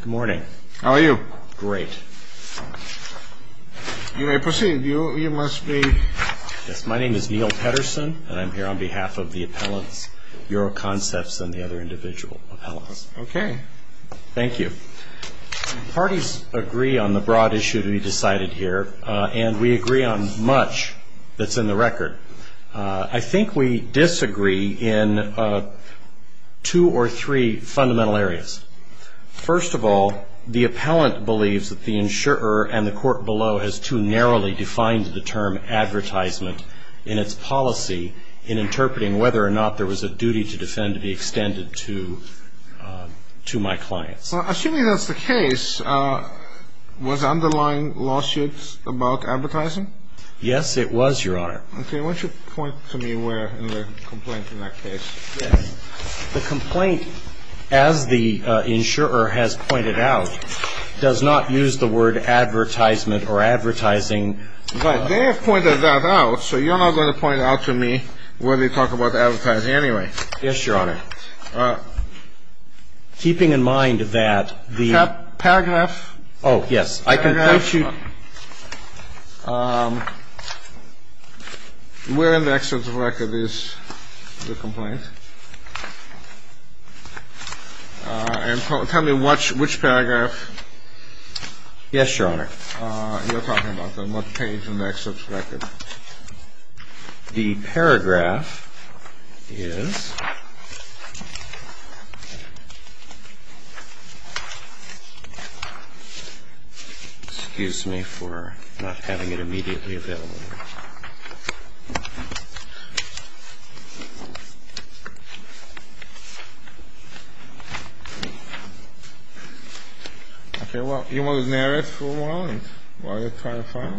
Good morning. How are you? Great. You may proceed. You must be... Yes. My name is Neil Pedersen, and I'm here on behalf of the appellants, Euroconcepts, and the other individual appellants. Okay. Thank you. Parties agree on the broad issue to be decided here, and we agree on much that's in the record. I think we disagree in two or three fundamental areas. First of all, the appellant believes that the insurer and the court below has too narrowly defined the term advertisement in its policy in interpreting whether or not there was a duty to defend to be extended to my client. So assuming that's the case, was the underlying lawsuit about advertising? Yes, it was, Your Honor. Okay. Why don't you point to me where in the complaint in that case? The complaint, as the insurer has pointed out, does not use the word advertisement or advertising. Right. They have pointed that out, so you're not going to point it out to me where they talk about advertising anyway. Yes, Your Honor. Keeping in mind that the... Paragraph? Oh, yes. I can point you... Where in the excerpt of the record is the complaint? And tell me which paragraph... Yes, Your Honor. You're talking about the... what page in the excerpt of the record? The paragraph is... Excuse me for not having it immediately available. Okay, well, you want to narrate for a while and while you're trying to find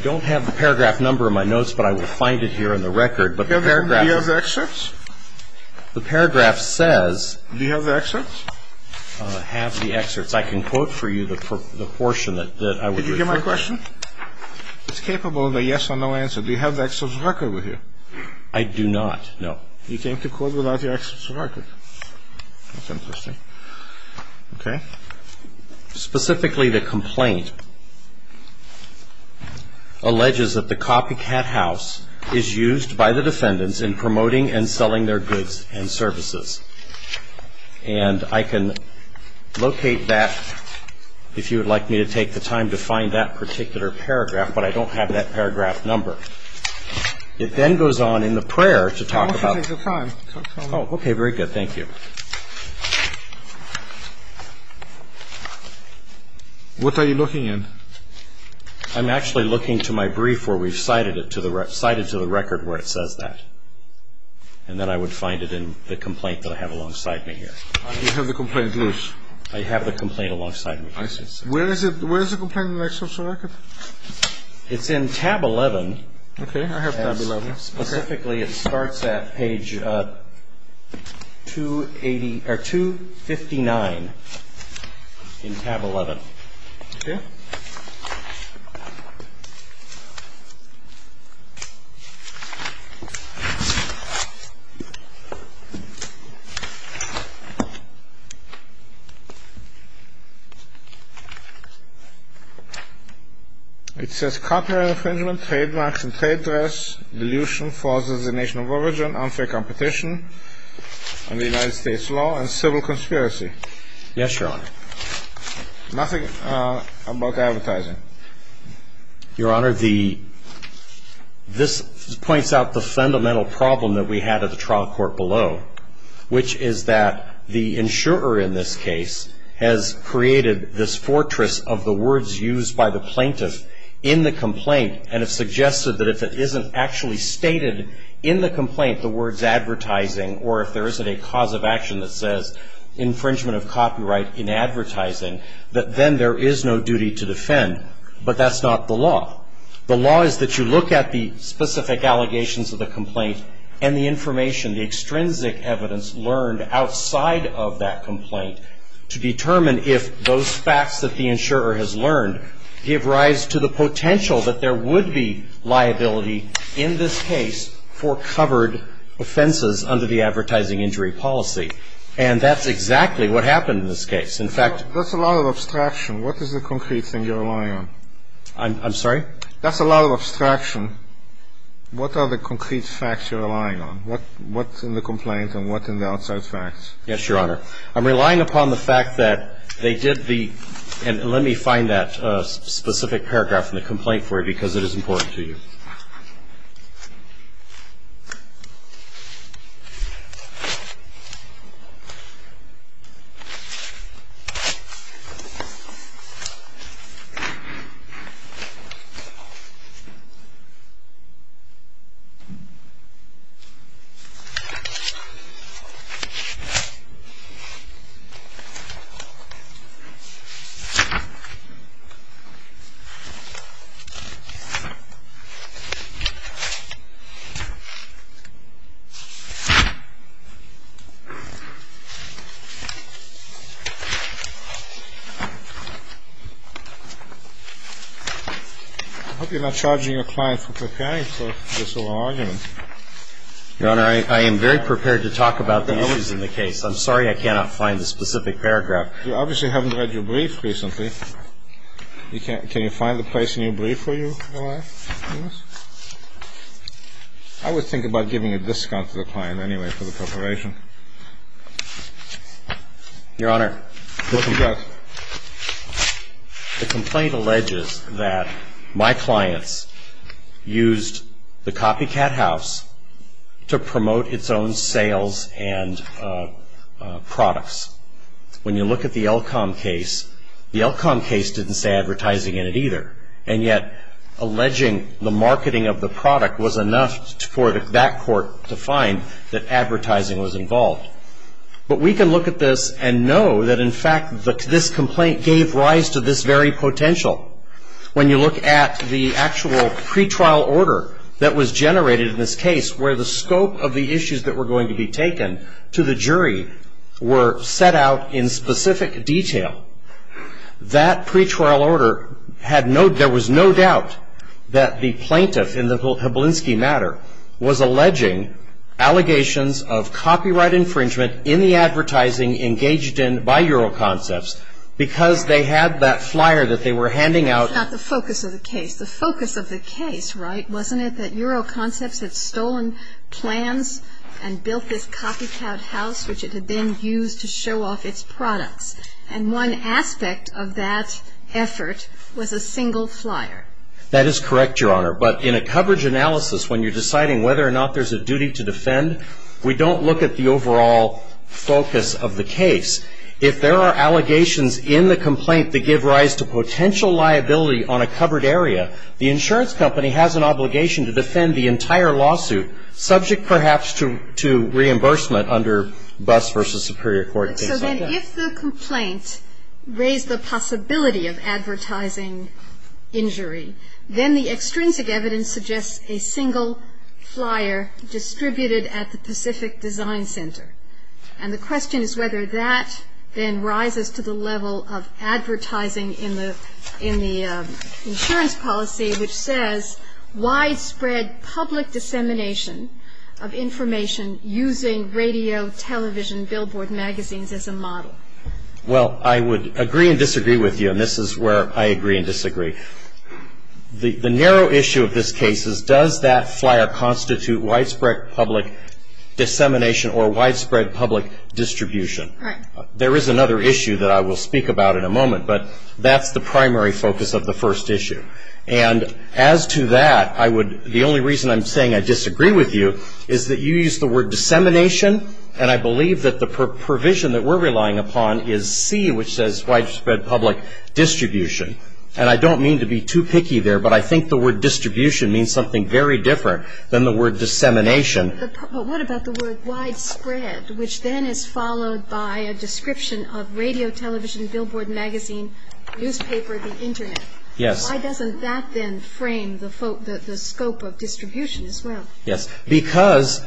it? I don't have the paragraph number in my notes, but I will find it here in the record, but the paragraph... Do you have the excerpts? The paragraph says... Do you have the excerpts? Have the excerpts. I can quote for you the portion that I would refer to. Did you get my question? It's capable of a yes or no answer. Do you have the excerpts of the record with you? I do not. No. You came to court without the excerpts of the record. That's interesting. Okay. Specifically, the complaint alleges that the copycat house is used by the defendants in promoting and selling their goods and services. And I can locate that if you would like me to take the time to find that particular paragraph, but I don't have that paragraph number. It then goes on in the prayer to talk about... I'll take the time. Oh, okay. Very good. Thank you. What are you looking in? I'm actually looking to my brief where we've cited to the record where it says that. And that I would find it in the complaint that I have alongside me here. You have the complaint loose. I have the complaint alongside me. Where is the complaint in the excerpts of the record? It's in tab 11. Okay. I have tab 11. Specifically, it starts at page 259 in tab 11. Okay. Thank you. It says copyright infringement, trademarks and trade dress, delusion, false designation of origin, unfair competition under United States law, and civil conspiracy. Yes, Your Honor. Nothing about advertising. Your Honor, this points out the fundamental problem that we had at the trial court below, which is that the insurer, in this case, has created this fortress of the words used by the plaintiff in the complaint and has suggested that if it isn't actually stated in the complaint the words advertising or if there isn't a cause of action that says infringement of copyright in advertising, that then there is no duty to defend. But that's not the law. The law is that you look at the specific allegations of the complaint and the information, the extrinsic evidence learned outside of that complaint, to determine if those facts that the insurer has learned give rise to the potential that there would be liability in this case for covered offenses under the advertising injury policy. And that's exactly what happened in this case. In fact ---- That's a lot of abstraction. What is the concrete thing you're relying on? I'm sorry? That's a lot of abstraction. What are the concrete facts you're relying on? What's in the complaint and what's in the outside facts? Yes, Your Honor. I'm relying upon the fact that they did the ---- I'm relying upon the fact that they did the ---- I hope you're not charging your client for preparing for this little argument. Your Honor, I am very prepared to talk about the issues in the case. I'm sorry I cannot find the specific paragraph. You obviously haven't read your brief recently. Can you find the place in your brief for you? I would think about giving a discount to the client anyway for the preparation. The complaint alleges that my clients used the copycat house to promote its own sales and products. When you look at the Elkhom case, the Elkhom case didn't say advertising in it either, and yet alleging the marketing of the product was enough for that court to find that advertising was involved. But we can look at this and know that, in fact, this complaint gave rise to this very potential. When you look at the actual pretrial order that was generated in this case, where the scope of the issues that were going to be taken to the jury were set out in specific detail, that pretrial order had no ---- in the advertising engaged in by Euro Concepts because they had that flyer that they were handing out. It's not the focus of the case. The focus of the case, right, wasn't it that Euro Concepts had stolen plans and built this copycat house, which it had then used to show off its products, and one aspect of that effort was a single flyer? That is correct, Your Honor. But in a coverage analysis, when you're deciding whether or not there's a duty to defend, we don't look at the overall focus of the case. If there are allegations in the complaint that give rise to potential liability on a covered area, the insurance company has an obligation to defend the entire lawsuit, subject perhaps to reimbursement under Buss v. Superior Court and things like that. So then if the complaint raised the possibility of advertising injury, then the extrinsic evidence suggests a single flyer distributed at the Pacific Design Center. And the question is whether that then rises to the level of advertising in the insurance policy, which says widespread public dissemination of information using radio, television, billboard magazines as a model. Well, I would agree and disagree with you, and this is where I agree and disagree. The narrow issue of this case is does that flyer constitute widespread public dissemination or widespread public distribution? Right. There is another issue that I will speak about in a moment, but that's the primary focus of the first issue. And as to that, the only reason I'm saying I disagree with you is that you used the word dissemination, and I believe that the provision that we're relying upon is C, which says widespread public distribution. And I don't mean to be too picky there, but I think the word distribution means something very different than the word dissemination. But what about the word widespread, which then is followed by a description of radio, television, billboard magazine, newspaper, the Internet? Yes. Why doesn't that then frame the scope of distribution as well? Yes, because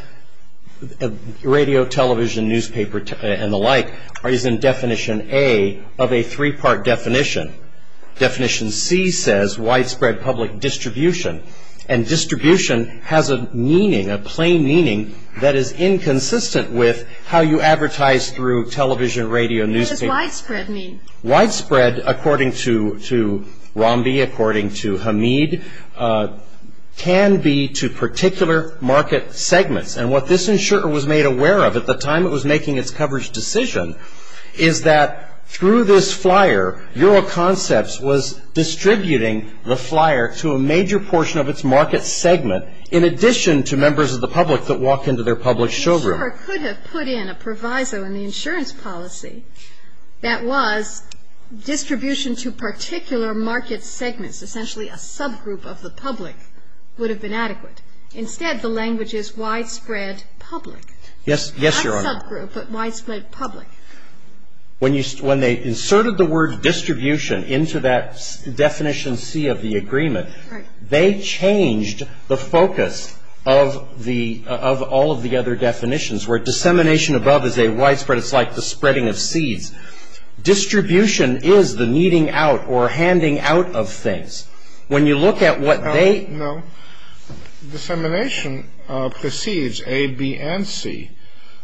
radio, television, newspaper, and the like is in definition A of a three-part definition. Definition C says widespread public distribution, and distribution has a meaning, a plain meaning, that is inconsistent with how you advertise through television, radio, newspaper. What does widespread mean? Widespread, according to Romby, according to Hamid, can be to particular market segments. And what this insurer was made aware of at the time it was making its coverage decision is that through this flyer, Euroconcepts was distributing the flyer to a major portion of its market segment, in addition to members of the public that walk into their public showroom. The insurer could have put in a proviso in the insurance policy that was distribution to particular market segments, essentially a subgroup of the public, would have been adequate. Instead, the language is widespread public. Yes, Your Honor. Not subgroup, but widespread public. When they inserted the word distribution into that definition C of the agreement, they changed the focus of all of the other definitions, where dissemination above is a widespread, it's like the spreading of seeds. Distribution is the kneading out or handing out of things. When you look at what they... No, no. Dissemination precedes A, B, and C.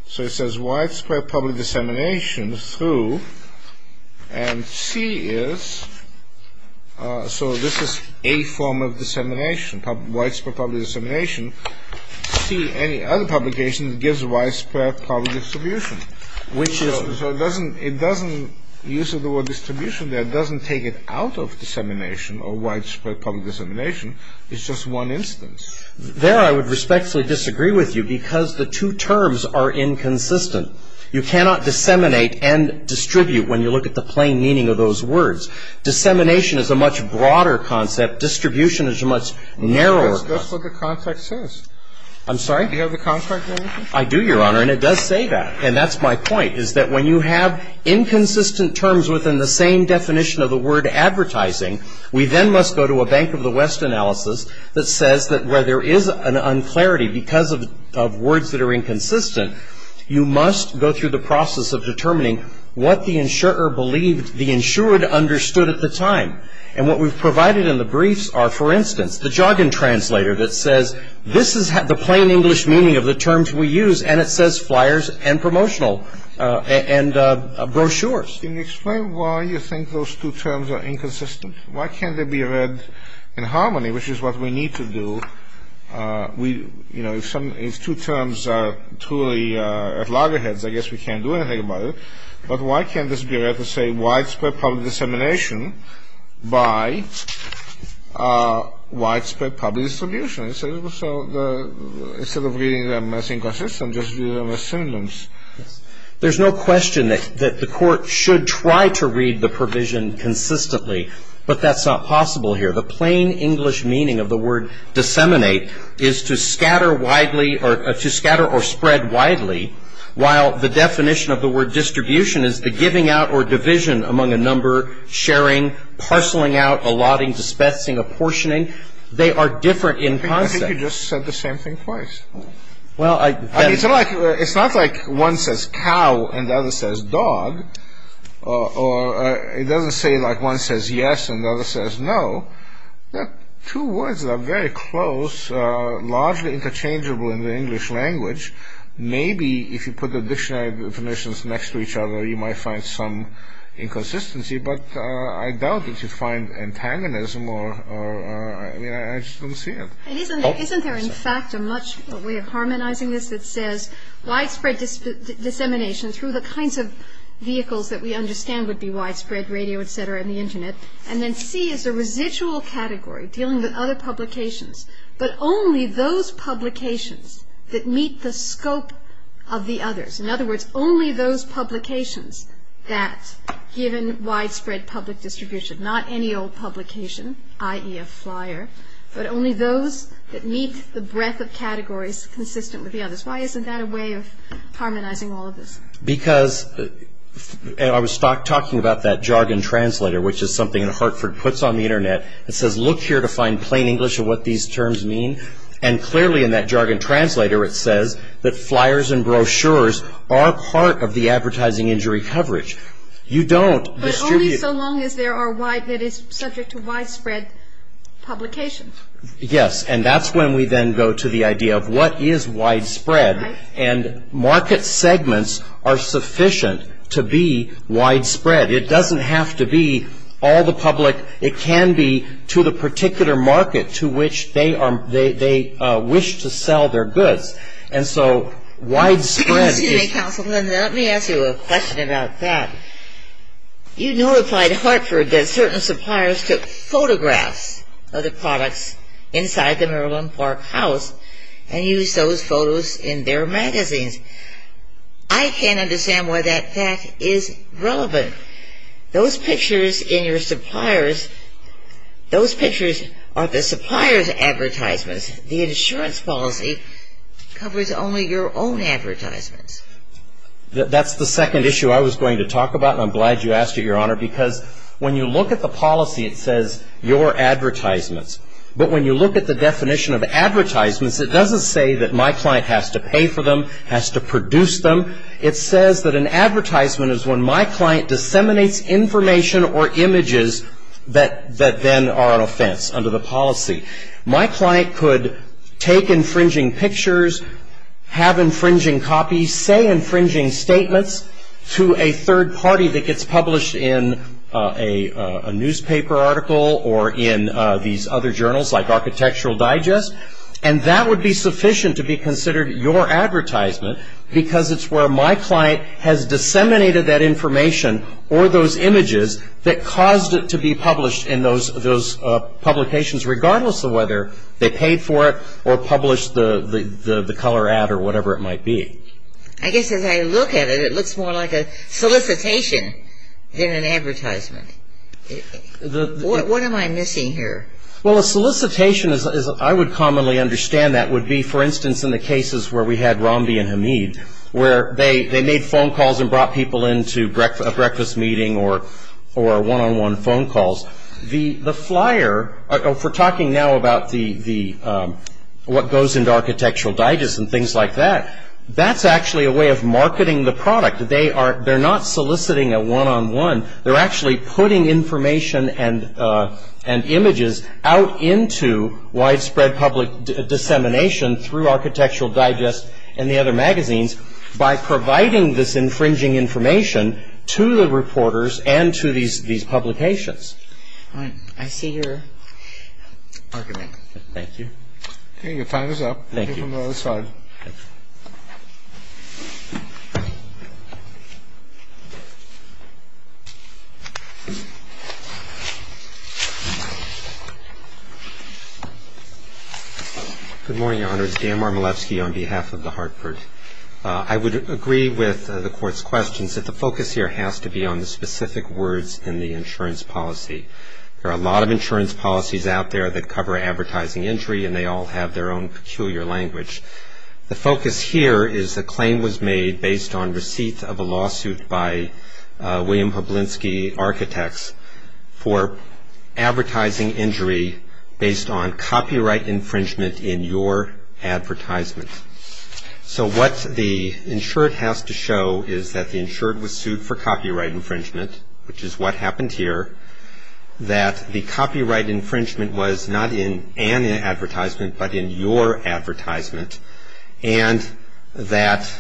So it says widespread public dissemination through, and C is, so this is A form of dissemination, widespread public dissemination. C, any other publication, gives widespread public distribution. Which is... So it doesn't, the use of the word distribution there doesn't take it out of dissemination or widespread public dissemination. It's just one instance. There I would respectfully disagree with you because the two terms are inconsistent. You cannot disseminate and distribute when you look at the plain meaning of those words. Dissemination is a much broader concept. Distribution is a much narrower concept. That's what the context says. I'm sorry? Do you have the context for anything? I do, Your Honor, and it does say that. And that's my point, is that when you have inconsistent terms within the same definition of the word advertising, we then must go to a Bank of the West analysis that says that where there is an unclarity because of words that are inconsistent, you must go through the process of determining what the insurer believed the insured understood at the time. And what we've provided in the briefs are, for instance, the jargon translator that says, this is the plain English meaning of the terms we use, and it says flyers and promotional and brochures. Can you explain why you think those two terms are inconsistent? Why can't they be read in harmony, which is what we need to do? You know, if two terms are truly at loggerheads, I guess we can't do anything about it. But why can't this be read to say widespread public dissemination by widespread public distribution? So instead of reading them as inconsistent, just read them as synonyms. There's no question that the Court should try to read the provision consistently, but that's not possible here. The plain English meaning of the word disseminate is to scatter widely or to scatter or spread widely, while the definition of the word distribution is the giving out or division among a number, sharing, parceling out, allotting, dispensing, apportioning. They are different in concept. I think you just said the same thing twice. Well, I — It's not like one says cow and the other says dog, or it doesn't say like one says yes and the other says no. Two words that are very close, largely interchangeable in the English language. Maybe if you put the dictionary definitions next to each other, you might find some inconsistency, but I doubt that you'd find antagonism or — I mean, I just don't see it. Isn't there, in fact, a much — a way of harmonizing this that says widespread dissemination through the kinds of vehicles that we understand would be widespread, radio, et cetera, and the Internet, and then C is a residual category dealing with other publications, but only those publications that meet the scope of the others. In other words, only those publications that, given widespread public distribution, not any old publication, i.e. a flyer, but only those that meet the breadth of categories consistent with the others. Why isn't that a way of harmonizing all of this? Because — and I was talking about that jargon translator, which is something Hartford puts on the Internet. It says, look here to find plain English of what these terms mean, and clearly in that jargon translator it says that flyers and brochures are part of the advertising injury coverage. You don't distribute — But only so long as there are wide — that it's subject to widespread publication. Yes, and that's when we then go to the idea of what is widespread, and market segments are sufficient to be widespread. It doesn't have to be all the public. It can be to the particular market to which they are — they wish to sell their goods. And so widespread is — Excuse me, Councilman. Let me ask you a question about that. You notified Hartford that certain suppliers took photographs of the products inside the Maryland Park House and used those photos in their magazines. I can't understand why that fact is relevant. Those pictures in your suppliers, those pictures are the supplier's advertisements. The insurance policy covers only your own advertisements. That's the second issue I was going to talk about, and I'm glad you asked it, Your Honor, because when you look at the policy, it says your advertisements. But when you look at the definition of advertisements, it doesn't say that my client has to pay for them, has to produce them. It says that an advertisement is when my client disseminates information or images that then are an offense under the policy. My client could take infringing pictures, have infringing copies, say infringing statements to a third party that gets published in a newspaper article or in these other journals like Architectural Digest, and that would be sufficient to be considered your advertisement because it's where my client has disseminated that information or those images that caused it to be published in those publications, regardless of whether they paid for it or published the color ad or whatever it might be. I guess as I look at it, it looks more like a solicitation than an advertisement. What am I missing here? Well, a solicitation, as I would commonly understand that, would be, for instance, in the cases where we had Rambi and Hamid, where they made phone calls and brought people into a breakfast meeting or one-on-one phone calls. The flyer, if we're talking now about what goes into Architectural Digest and things like that, that's actually a way of marketing the product. They're not soliciting a one-on-one. They're actually putting information and images out into widespread public dissemination through Architectural Digest and the other magazines by providing this infringing information to the reporters and to these publications. All right. I see your argument. Thank you. Okay. Your time is up. Thank you. Mr. Marmolevsky. Good morning, Your Honor. It's Dan Marmolevsky on behalf of the Hartford. I would agree with the Court's questions that the focus here has to be on the specific words in the insurance policy. There are a lot of insurance policies out there that cover advertising injury and they all have their own peculiar language. The focus here is a claim was made based on receipt of a lawsuit by William Hoblinski Architects for advertising injury based on copyright infringement in your advertisement. So what the insured has to show is that the insured was sued for copyright infringement, which is what happened here, that the copyright infringement was not in an advertisement but in your advertisement, and that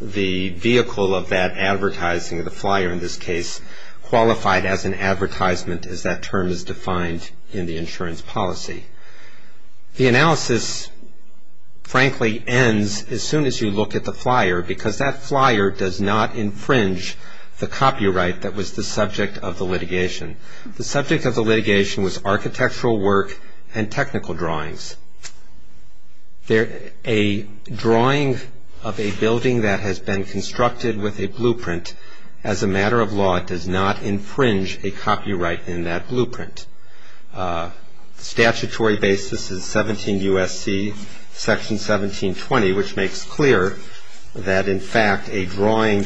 the vehicle of that advertising, the flyer in this case, qualified as an advertisement as that term is defined in the insurance policy. The analysis, frankly, ends as soon as you look at the flyer because that flyer does not infringe the copyright that was the subject of the litigation. The subject of the litigation was architectural work and technical drawings. A drawing of a building that has been constructed with a blueprint as a matter of law does not infringe a copyright in that blueprint. Statutory basis is 17 U.S.C. Section 1720, which makes clear that in fact a drawing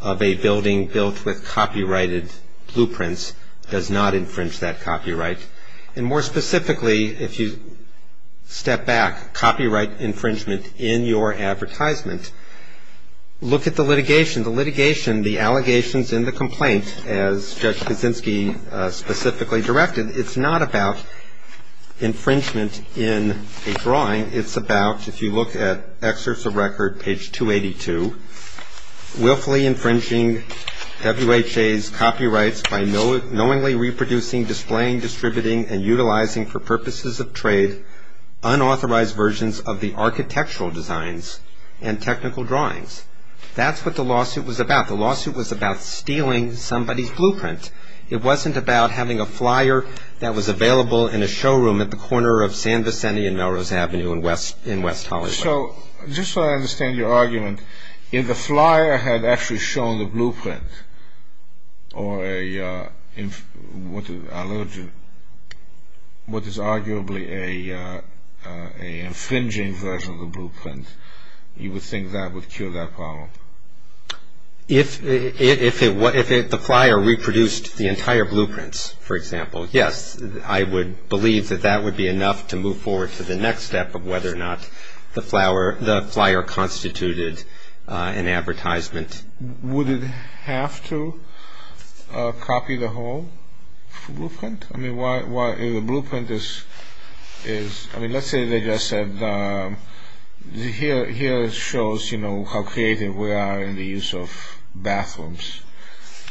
of a building built with copyrighted blueprints does not infringe that copyright. And more specifically, if you step back, copyright infringement in your advertisement, look at the litigation. The litigation, the allegations in the complaint, as Judge Kaczynski specifically directed, it's not about infringement in a drawing. It's about, if you look at excerpts of record, page 282, willfully infringing WHA's copyrights by knowingly reproducing, displaying, distributing, and utilizing for purposes of trade unauthorized versions of the architectural designs and technical drawings. That's what the lawsuit was about. The lawsuit was about stealing somebody's blueprint. It wasn't about having a flyer that was available in a showroom at the corner of San Vicente and Melrose Avenue in West Hollywood. So, just so I understand your argument, if the flyer had actually shown the blueprint you would think that would cure that problem? If the flyer reproduced the entire blueprints, for example, yes, I would believe that that would be enough to move forward to the next step of whether or not the flyer constituted an advertisement. Would it have to copy the whole blueprint? The blueprint is, let's say they just said, here it shows how creative we are in the use of bathrooms,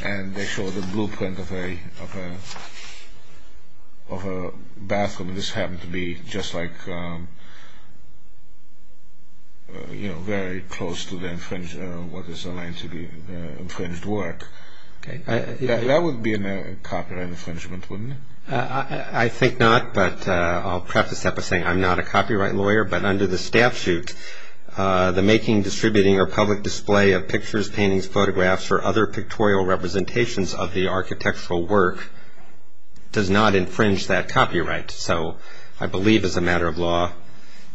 and they show the blueprint of a bathroom, and this happened to be just like, very close to what is aligned to be infringed work. That would be a copyright infringement, wouldn't it? I think not, but I'll preface that by saying I'm not a copyright lawyer, but under the statute the making, distributing, or public display of pictures, paintings, photographs, or other pictorial representations of the architectural work does not infringe that copyright. So, I believe as a matter of law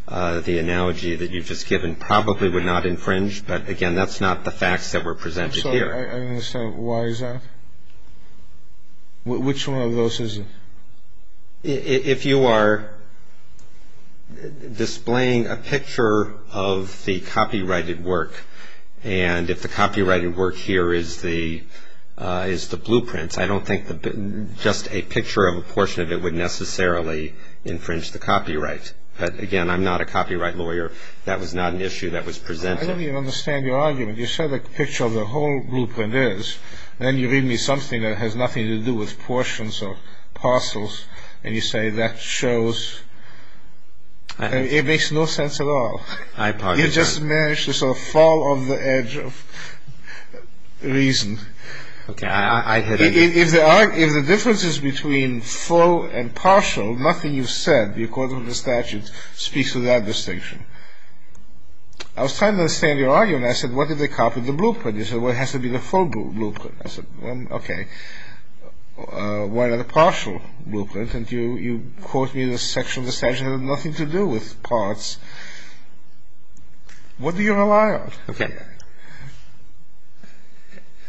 the analogy that you've just given probably would not infringe, but again that's not the facts that were presented here. I don't understand why is that? Which one of those is it? If you are displaying a picture of the copyrighted work, and if the copyrighted work here is the blueprints, I don't think just a picture of a portion of it would necessarily infringe the copyright. But again, I'm not a copyright lawyer. That was not an issue that was presented. I don't even understand your argument. You said a picture of the whole blueprint is, then you read me something that has nothing to do with portions or parcels, and you say that shows, it makes no sense at all. I apologize. You just managed to sort of fall off the edge of reason. Okay, I hear you. If the difference is between full and partial, nothing you've said according to the statute speaks to that distinction. I was trying to understand your argument. I said, what if they copied the blueprint? You said, well, it has to be the full blueprint. I said, okay. Why not a partial blueprint? And you quote me the section of the statute had nothing to do with parts. What do you rely on? Okay.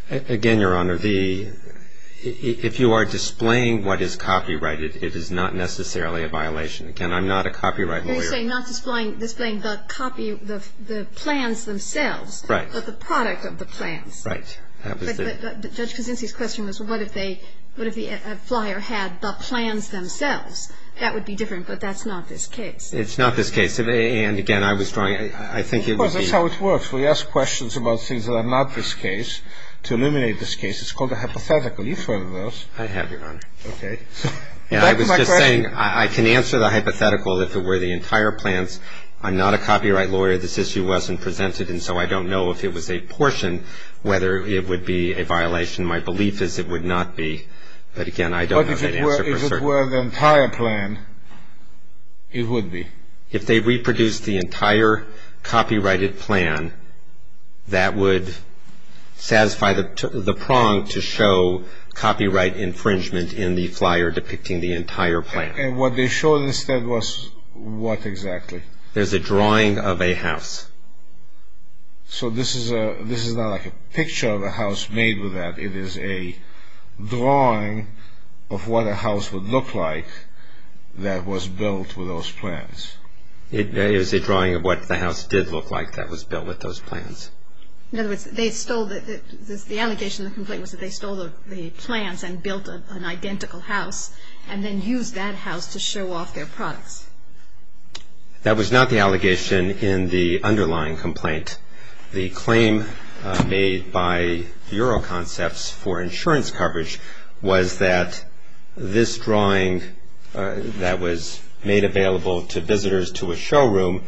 Again, Your Honor, if you are displaying what is copyrighted, it is not necessarily a violation. Again, I'm not a copyright lawyer. You're saying not displaying the copy, the plans themselves. Right. But the product of the plans. Right. Judge Kuczynski's question was, what if the flyer had the plans themselves? That would be different, but that's not this case. It's not this case. And, again, I was trying, I think it would be. Of course, that's how it works. We ask questions about things that are not this case to eliminate this case. It's called a hypothetical. You've heard of those. I have, Your Honor. Okay. Back to my question. I'm not a copyright lawyer. This issue wasn't presented, and so I don't know if it was a portion, whether it would be a violation. My belief is it would not be. But, again, I don't have that answer for certain. But if it were the entire plan, it would be. If they reproduced the entire copyrighted plan, that would satisfy the prong to show copyright infringement in the flyer depicting the entire plan. And what they showed instead was what exactly? There's a drawing of a house. So this is not like a picture of a house made with that. It is a drawing of what a house would look like that was built with those plans. It is a drawing of what the house did look like that was built with those plans. In other words, they stole the, the allegation, the complaint, was that they stole the plans and built an identical house and then used that house to show off their products. That was not the allegation in the underlying complaint. The claim made by Bureau Concepts for insurance coverage was that this drawing that was made available to visitors to a showroom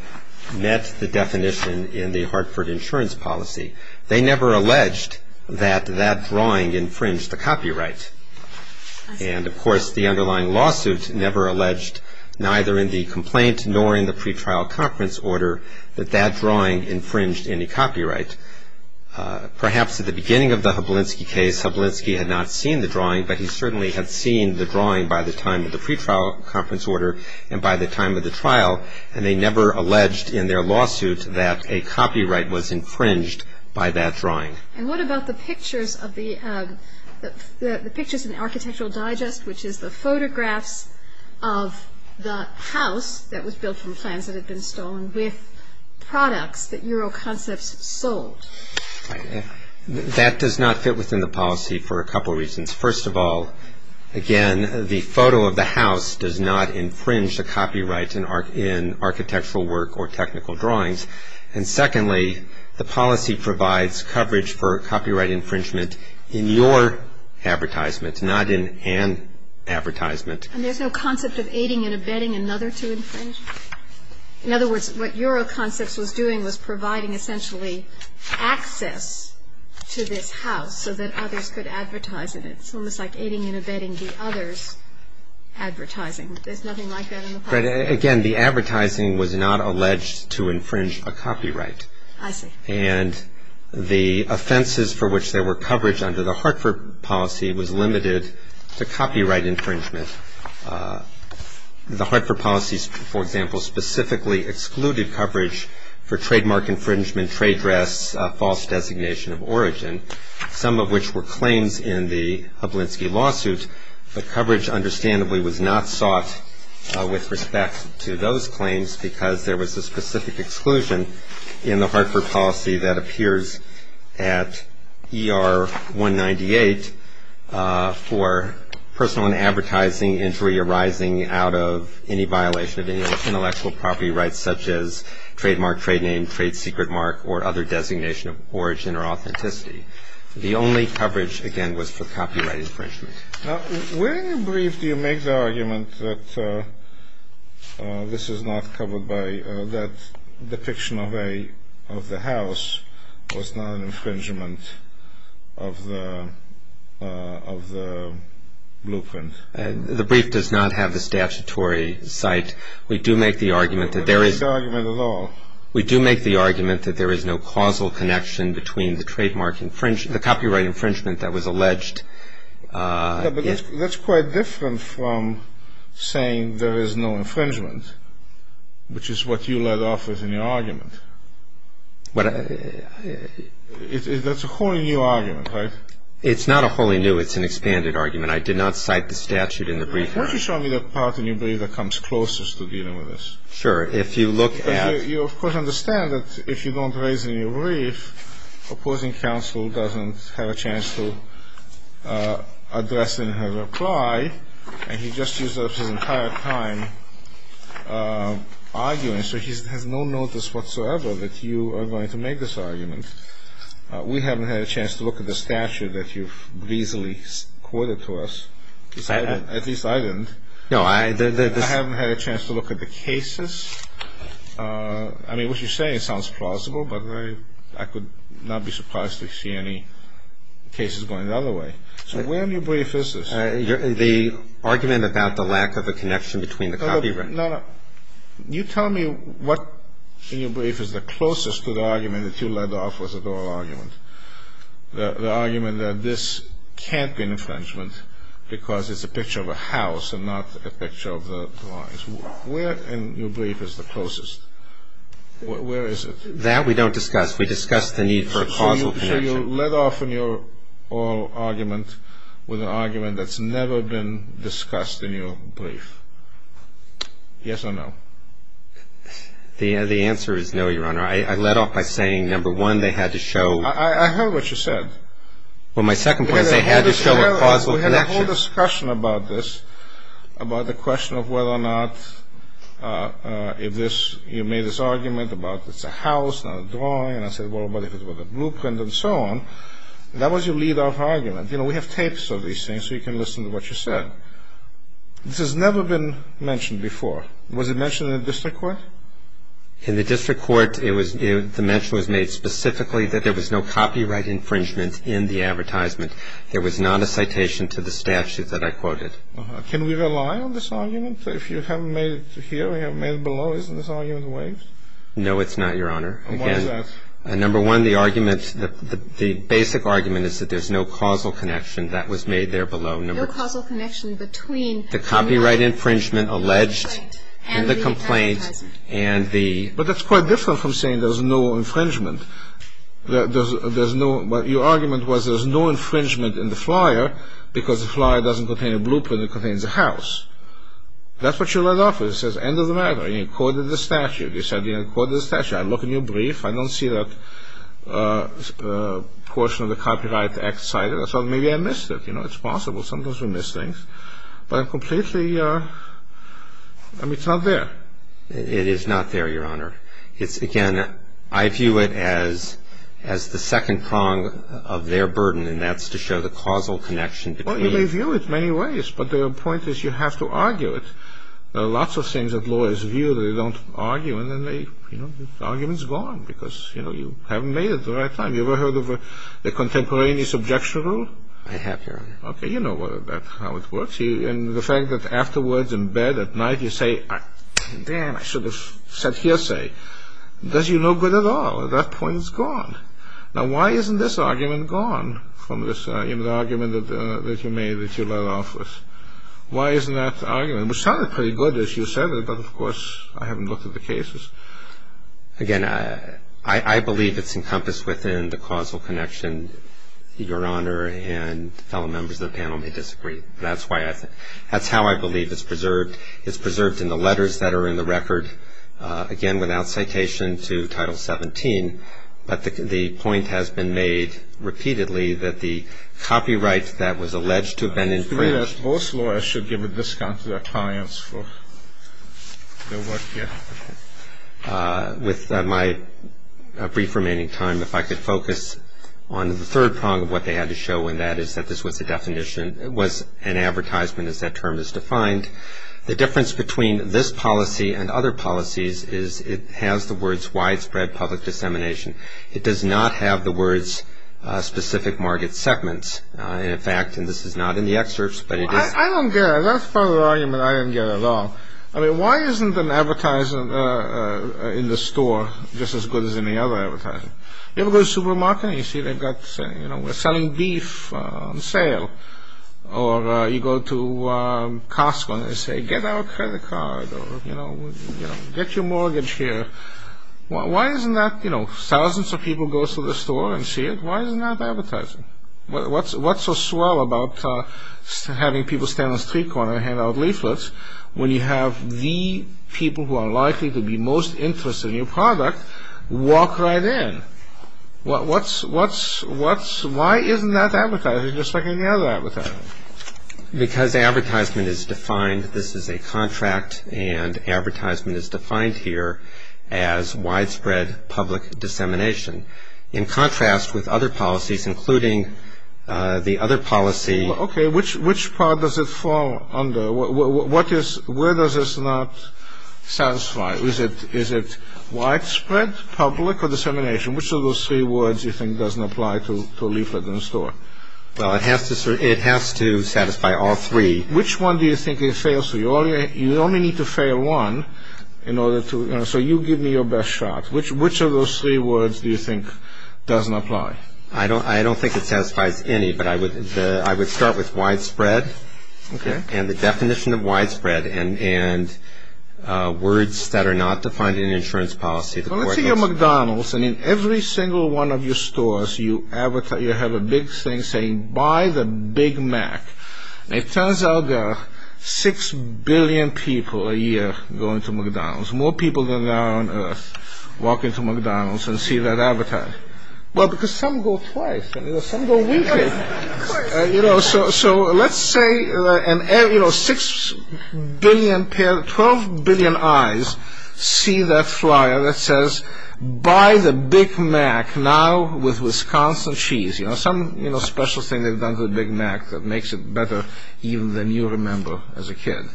met the definition in the Hartford insurance policy. They never alleged that that drawing infringed the copyright. And, of course, the underlying lawsuit never alleged, neither in the complaint nor in the pretrial conference order, that that drawing infringed any copyright. Perhaps at the beginning of the Hablinski case, Hablinski had not seen the drawing, but he certainly had seen the drawing by the time of the pretrial conference order and by the time of the trial, and they never alleged in their lawsuit that a copyright was infringed by that drawing. And what about the pictures of the, the pictures in the Architectural Digest, which is the photographs of the house that was built from plans that had been stolen with products that Euro Concepts sold? That does not fit within the policy for a couple of reasons. First of all, again, the photo of the house does not infringe the copyright in architectural work or technical drawings. And secondly, the policy provides coverage for copyright infringement in your advertisement, not in an advertisement. And there's no concept of aiding and abetting another to infringe? In other words, what Euro Concepts was doing was providing, essentially, access to this house so that others could advertise in it. It's almost like aiding and abetting the others advertising. There's nothing like that in the policy. Again, the advertising was not alleged to infringe a copyright. I see. And the offenses for which there were coverage under the Hartford policy was limited to copyright infringement. The Hartford policy, for example, specifically excluded coverage for trademark infringement, trade dress, false designation of origin, some of which were claims in the Hublinski lawsuit. But coverage, understandably, was not sought with respect to those claims because there was a specific exclusion in the Hartford policy that appears at ER-198 for personal and advertising injury arising out of any violation of any intellectual property rights, such as trademark, trade name, trade secret mark, or other designation of origin or authenticity. The only coverage, again, was for copyright infringement. Now, where in your brief do you make the argument that this is not covered by that depiction of the house was not an infringement of the blueprint? The brief does not have the statutory cite. We do make the argument that there is... We don't make the argument at all. We do make the argument that there is no causal connection between the trademark infringement, the copyright infringement that was alleged. Yeah, but that's quite different from saying there is no infringement, which is what you led off as in your argument. That's a wholly new argument, right? It's not a wholly new. It's an expanded argument. I did not cite the statute in the brief. Won't you show me the part in your brief that comes closest to dealing with this? Sure. If you look at... You, of course, understand that if you don't raise any brief, opposing counsel doesn't have a chance to address and have a reply, and he just used up his entire time arguing. So he has no notice whatsoever that you are going to make this argument. We haven't had a chance to look at the statute that you've greasily quoted to us. At least I didn't. No, I... I haven't had a chance to look at the cases. I mean, what you're saying sounds plausible, but I could not be surprised to see any cases going the other way. So where in your brief is this? The argument about the lack of a connection between the copyright. No, no. You tell me what in your brief is the closest to the argument that you led off as a dual argument, the argument that this can't be an infringement because it's a picture of a house and not a picture of the drawings. Where in your brief is the closest? Where is it? That we don't discuss. We discuss the need for a causal connection. So you led off in your oral argument with an argument that's never been discussed in your brief. Yes or no? The answer is no, Your Honor. I led off by saying, number one, they had to show... I heard what you said. Well, my second point is they had to show a causal connection. The whole discussion about this, about the question of whether or not if this, you made this argument about it's a house, not a drawing, and I said, well, what if it was a blueprint and so on, that was your lead off argument. You know, we have tapes of these things, so you can listen to what you said. This has never been mentioned before. Was it mentioned in the district court? In the district court, the mention was made specifically that there was no copyright infringement in the advertisement. There was not a citation to the statute that I quoted. Can we rely on this argument? If you haven't made it here or you haven't made it below, isn't this argument waived? No, it's not, Your Honor. And why is that? Number one, the argument, the basic argument is that there's no causal connection. That was made there below. No causal connection between... The copyright infringement alleged in the complaint and the... But that's quite different from saying there's no infringement. Your argument was there's no infringement in the flyer because the flyer doesn't contain a blueprint, it contains a house. That's what your lead off is. It says, end of the matter. You quoted the statute. You said you quoted the statute. I look in your brief. I don't see that portion of the copyright act cited. I thought maybe I missed it. You know, it's possible. Sometimes we miss things. But I'm completely... I mean, it's not there. It is not there, Your Honor. It's, again, I view it as the second prong of their burden, and that's to show the causal connection between... Well, you may view it many ways, but the point is you have to argue it. There are lots of things that lawyers view, they don't argue, and then the argument's gone because, you know, you haven't made it the right time. You ever heard of the contemporaneous objection rule? I have, Your Honor. Okay, you know how it works. You see, and the fact that afterwards in bed at night you say, damn, I should have said hearsay, does you no good at all. At that point, it's gone. Now, why isn't this argument gone from this argument that you made that you let off with? Why isn't that argument, which sounded pretty good as you said it, but, of course, I haven't looked at the cases. Again, I believe it's encompassed within the causal connection, Your Honor, and fellow members of the panel may disagree. That's how I believe it's preserved. It's preserved in the letters that are in the record. Again, without citation to Title 17, but the point has been made repeatedly that the copyright that was alleged to have been infringed... Both lawyers should give a discount to their clients for their work here. With my brief remaining time, if I could focus on the third prong of what they had to show in that is that this was an advertisement as that term is defined. The difference between this policy and other policies is it has the words widespread public dissemination. It does not have the words specific market segments. In fact, and this is not in the excerpts, but it is... I don't get it. That's part of the argument I didn't get at all. I mean, why isn't an advertiser in the store just as good as any other advertiser? You ever go to supermarket and you see they've got, you know, selling beef on sale? Or you go to Costco and they say, get our credit card or, you know, get your mortgage here. Why isn't that, you know, thousands of people go to the store and see it? Why isn't that advertising? What's so swell about having people stand on the street corner and hand out leaflets when you have the people who are likely to be most interested in your product walk right in? Why isn't that advertising just like any other advertising? Because advertisement is defined. This is a contract, and advertisement is defined here as widespread public dissemination. In contrast with other policies, including the other policy... Okay, which part does it fall under? Where does this not satisfy? Is it widespread public or dissemination? Which of those three words you think doesn't apply to a leaflet in a store? Well, it has to satisfy all three. Which one do you think it fails to? You only need to fail one in order to... So you give me your best shot. Which of those three words do you think doesn't apply? I don't think it satisfies any, but I would start with widespread and the definition of widespread and words that are not defined in insurance policy. Well, let's say you're McDonald's, and in every single one of your stores, you have a big thing saying, buy the Big Mac. And it turns out there are 6 billion people a year going to McDonald's. More people than there are on Earth walk into McDonald's and see that advertisement. Why is that? Well, because some go twice. Some go weekly. So let's say 6 billion, 12 billion eyes see that flyer that says, buy the Big Mac, now with Wisconsin cheese. Some special thing they've done to the Big Mac that makes it better even than you remember as a kid.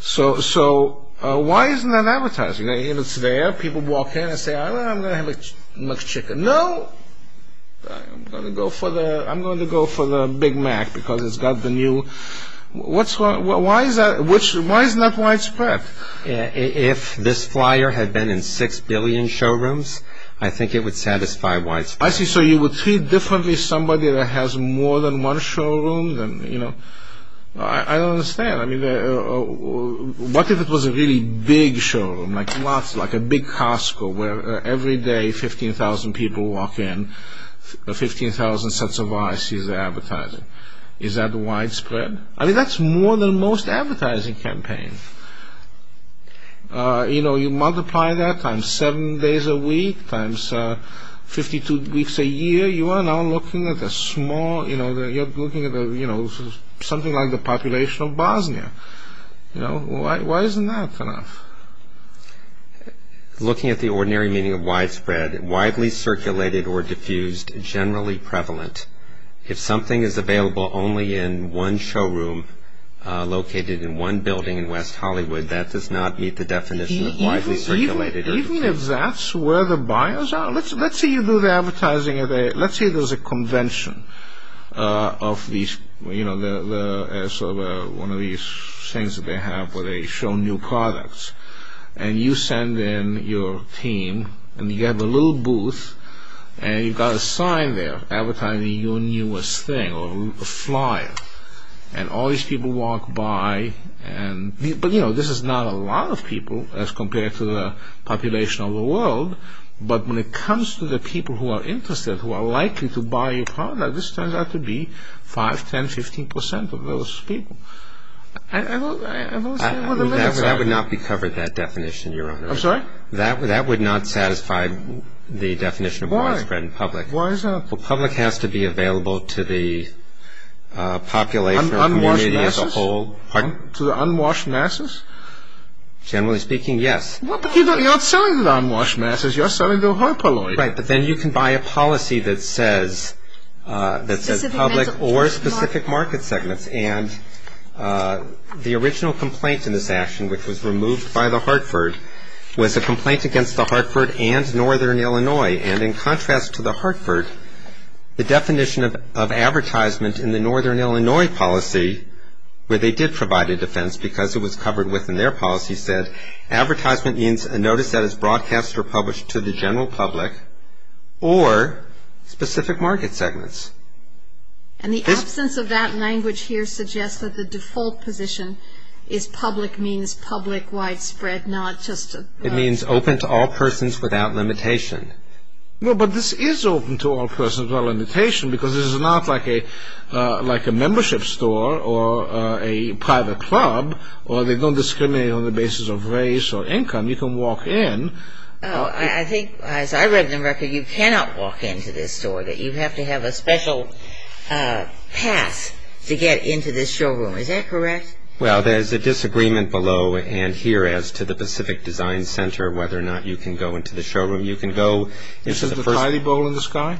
So why isn't that advertising? It's there. People walk in and say, I'm going to have a McChicken. No, I'm going to go for the Big Mac because it's got the new... Why isn't that widespread? If this flyer had been in 6 billion showrooms, I think it would satisfy widespread. I see. So you would treat differently somebody that has more than one showroom. I don't understand. What if it was a really big showroom, like a big Costco, where every day 15,000 people walk in, 15,000 sets of eyes see the advertising. Is that widespread? I mean, that's more than most advertising campaigns. You multiply that times 7 days a week, times 52 weeks a year, you are now looking at something like the population of Bosnia. Why isn't that enough? Looking at the ordinary meaning of widespread, widely circulated or diffused, generally prevalent. If something is available only in one showroom located in one building in West Hollywood, that does not meet the definition of widely circulated. Even if that's where the buyers are, let's say you do the advertising, let's say there's a convention of one of these things that they have where they show new products. And you send in your team, and you have a little booth, and you've got a sign there advertising your newest thing or flyer. And all these people walk by. But, you know, this is not a lot of people as compared to the population of the world. But when it comes to the people who are interested, who are likely to buy your product, this turns out to be 5, 10, 15 percent of those people. That would not be covered, that definition, Your Honor. I'm sorry? That would not satisfy the definition of widespread in public. Why is that? Well, public has to be available to the population or community as a whole. Unwashed masses? Pardon? To the unwashed masses? Generally speaking, yes. Well, but you're not selling to the unwashed masses. You're selling to a herpeloid. Right, but then you can buy a policy that says public or specific market segments. And the original complaint in this action, which was removed by the Hartford, was a complaint against the Hartford and Northern Illinois. And in contrast to the Hartford, the definition of advertisement in the Northern Illinois policy, where they did provide a defense because it was covered within their policy, said advertisement means a notice that is broadcast or published to the general public or specific market segments. And the absence of that language here suggests that the default position is public means public widespread, not just a... Public means open to all persons without limitation. Well, but this is open to all persons without limitation because this is not like a membership store or a private club where they don't discriminate on the basis of race or income. You can walk in. I think, as I read in the record, you cannot walk into this store. You have to have a special pass to get into this showroom. Is that correct? Well, there's a disagreement below and here as to the Pacific Design Center, whether or not you can go into the showroom. You can go into the first... This is the tiny bowl in the sky?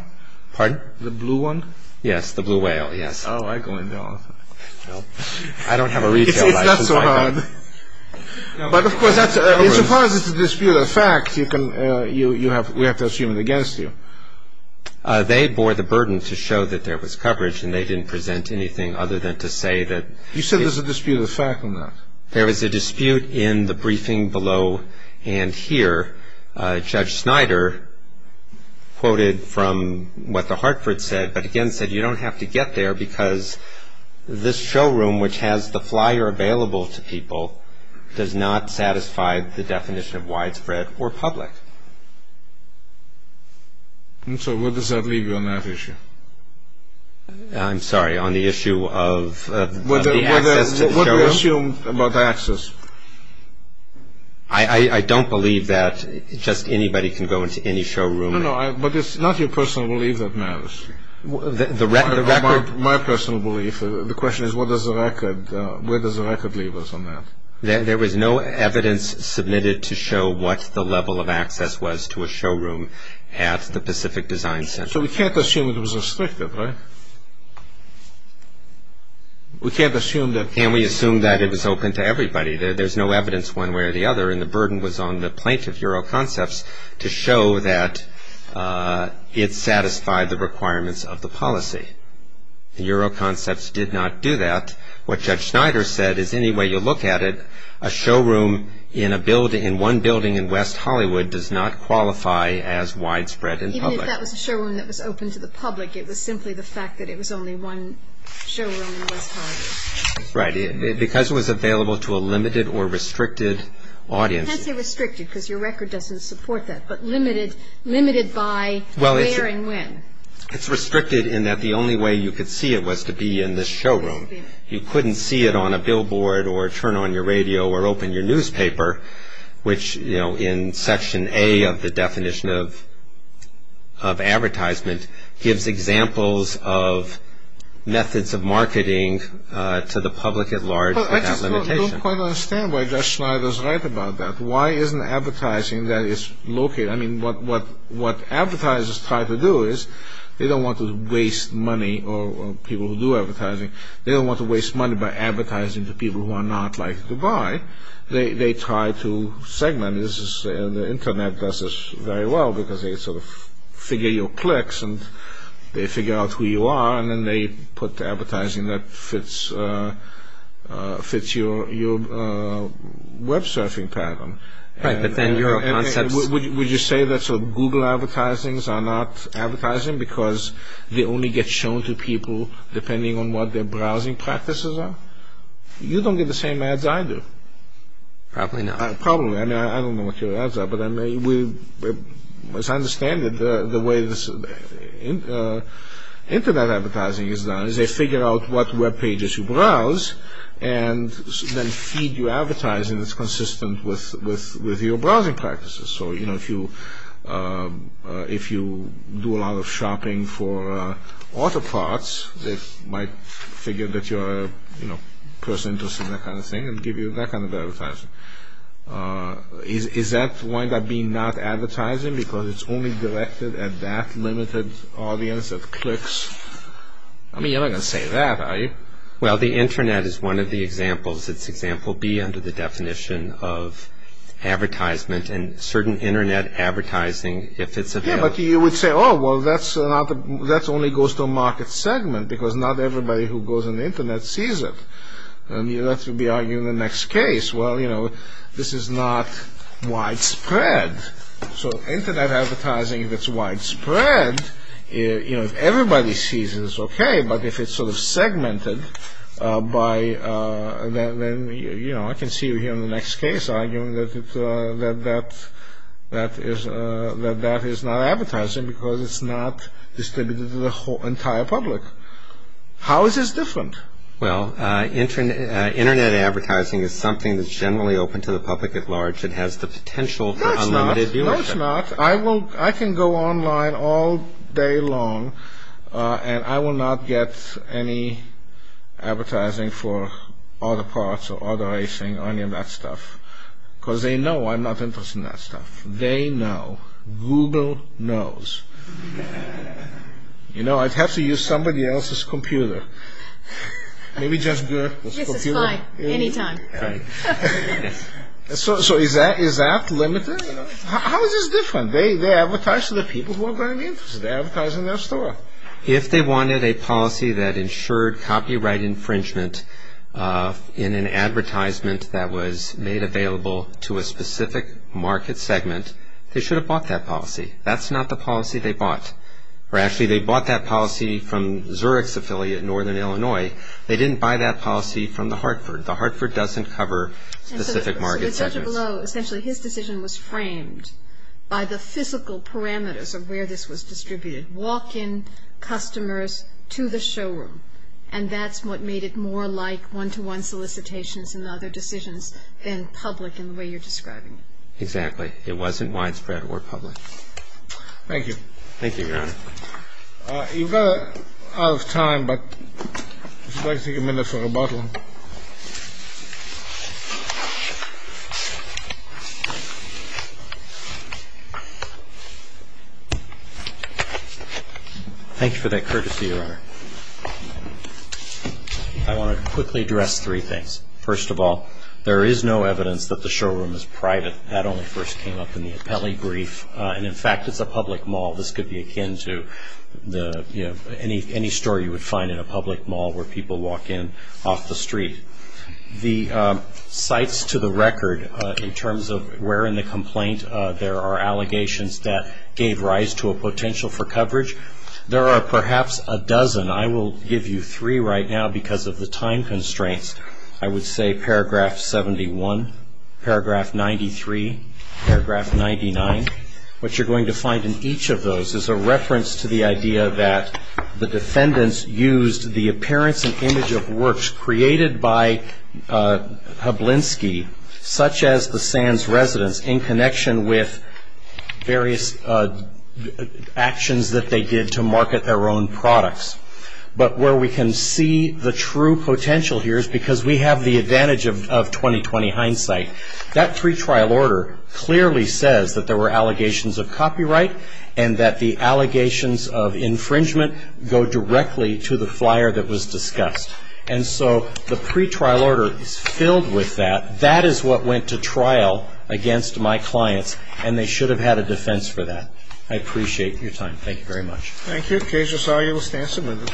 Pardon? The blue one? Yes, the blue whale, yes. Oh, I go in there all the time. I don't have a retail license. It's not so hard. But, of course, that's... As far as it's a disputed fact, you can... We have to assume it against you. They bore the burden to show that there was coverage and they didn't present anything other than to say that... You said there's a disputed fact in that. There is a dispute in the briefing below and here. Judge Snyder quoted from what the Hartford said, but again said you don't have to get there because this showroom, which has the flyer available to people, does not satisfy the definition of widespread or public. So where does that leave you on that issue? I'm sorry, on the issue of... What do you assume about the access? I don't believe that just anybody can go into any showroom. No, no, but it's not your personal belief that matters. My personal belief, the question is where does the record leave us on that? There was no evidence submitted to show what the level of access was to a showroom at the Pacific Design Center. So we can't assume it was restricted, right? We can't assume that... Can we assume that it was open to everybody? There's no evidence one way or the other and the burden was on the plaintiff, Euroconcepts, to show that it satisfied the requirements of the policy. Euroconcepts did not do that. What Judge Snyder said is any way you look at it, a showroom in one building in West Hollywood does not qualify as widespread and public. Even if that was a showroom that was open to the public, it was simply the fact that it was only one showroom in West Hollywood. Right, because it was available to a limited or restricted audience... You can't say restricted because your record doesn't support that, but limited by where and when. It's restricted in that the only way you could see it was to be in this showroom. You couldn't see it on a billboard or turn on your radio or open your newspaper, which in Section A of the definition of advertisement gives examples of methods of marketing to the public at large without limitation. I just don't quite understand why Judge Snyder is right about that. Why isn't advertising that is located... I mean, what advertisers try to do is they don't want to waste money, or people who do advertising, they don't want to waste money by advertising to people who are not likely to buy. They try to segment. The Internet does this very well because they sort of figure your clicks and they figure out who you are, and then they put advertising that fits your web-surfing pattern. Right, but then your concepts... Would you say that Google advertisings are not advertising because they only get shown to people depending on what their browsing practices are? You don't get the same ads I do. Probably not. Probably. I mean, I don't know what your ads are, but as I understand it, the way Internet advertising is done is they figure out what web pages you browse and then feed you advertising that's consistent with your browsing practices. So, you know, if you do a lot of shopping for auto parts, they might figure that you're a person interested in that kind of thing and give you that kind of advertising. Is that why that would be not advertising? Because it's only directed at that limited audience of clicks? I mean, you're not going to say that, are you? Well, the Internet is one of the examples. It's example B under the definition of advertisement and certain Internet advertising, if it's available. Yeah, but you would say, oh, well, that only goes to a market segment because not everybody who goes on the Internet sees it. And you'd have to be arguing in the next case, well, you know, this is not widespread. So Internet advertising that's widespread, you know, if everybody sees it, it's okay, but if it's sort of segmented by, you know, I can see you here in the next case arguing that that is not advertising because it's not distributed to the entire public. How is this different? Well, Internet advertising is something that's generally open to the public at large and has the potential for unlimited viewership. No, it's not. I can go online all day long and I will not get any advertising for other parts or other racing or any of that stuff because they know I'm not interested in that stuff. They know. Google knows. You know, I'd have to use somebody else's computer. Maybe just Google. Yes, it's fine. Anytime. So is that limited? How is this different? They advertise to the people who are going to be interested. They advertise in their store. If they wanted a policy that ensured copyright infringement in an advertisement that was made available to a specific market segment, they should have bought that policy. That's not the policy they bought. Or actually, they bought that policy from Zurich's affiliate in northern Illinois. They didn't buy that policy from the Hartford. The Hartford doesn't cover specific market segments. So the judge below, essentially his decision was framed by the physical parameters of where this was distributed. Walk-in customers to the showroom. And that's what made it more like one-to-one solicitations and other decisions than public in the way you're describing it. Exactly. It wasn't widespread or public. Thank you. Thank you, Your Honor. You're out of time, but I'd like to take a minute for rebuttal. Thank you for that courtesy, Your Honor. I want to quickly address three things. First of all, there is no evidence that the showroom is private. That only first came up in the appellee brief. And, in fact, it's a public mall. This could be akin to any store you would find in a public mall where people walk in off the street. The sites to the record in terms of where in the complaint there are allegations that gave rise to a potential for coverage, there are perhaps a dozen. I will give you three right now because of the time constraints. I would say paragraph 71, paragraph 93, paragraph 99. What you're going to find in each of those is a reference to the idea that the defendants used the appearance and image of works created by Hablinski, such as the Sands residence, in connection with various actions that they did to market their own products. But where we can see the true potential here is because we have the advantage of 20-20 hindsight. That pretrial order clearly says that there were allegations of copyright and that the allegations of infringement go directly to the flyer that was discussed. And so the pretrial order is filled with that. That is what went to trial against my clients, and they should have had a defense for that. I appreciate your time. Thank you very much. Thank you. Case resolved. You will stand submitted.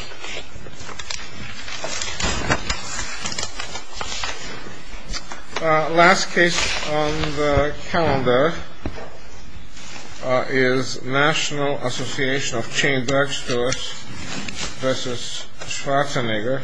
Last case on the calendar is National Association of Chain Bag Stores v. Schwarzenegger.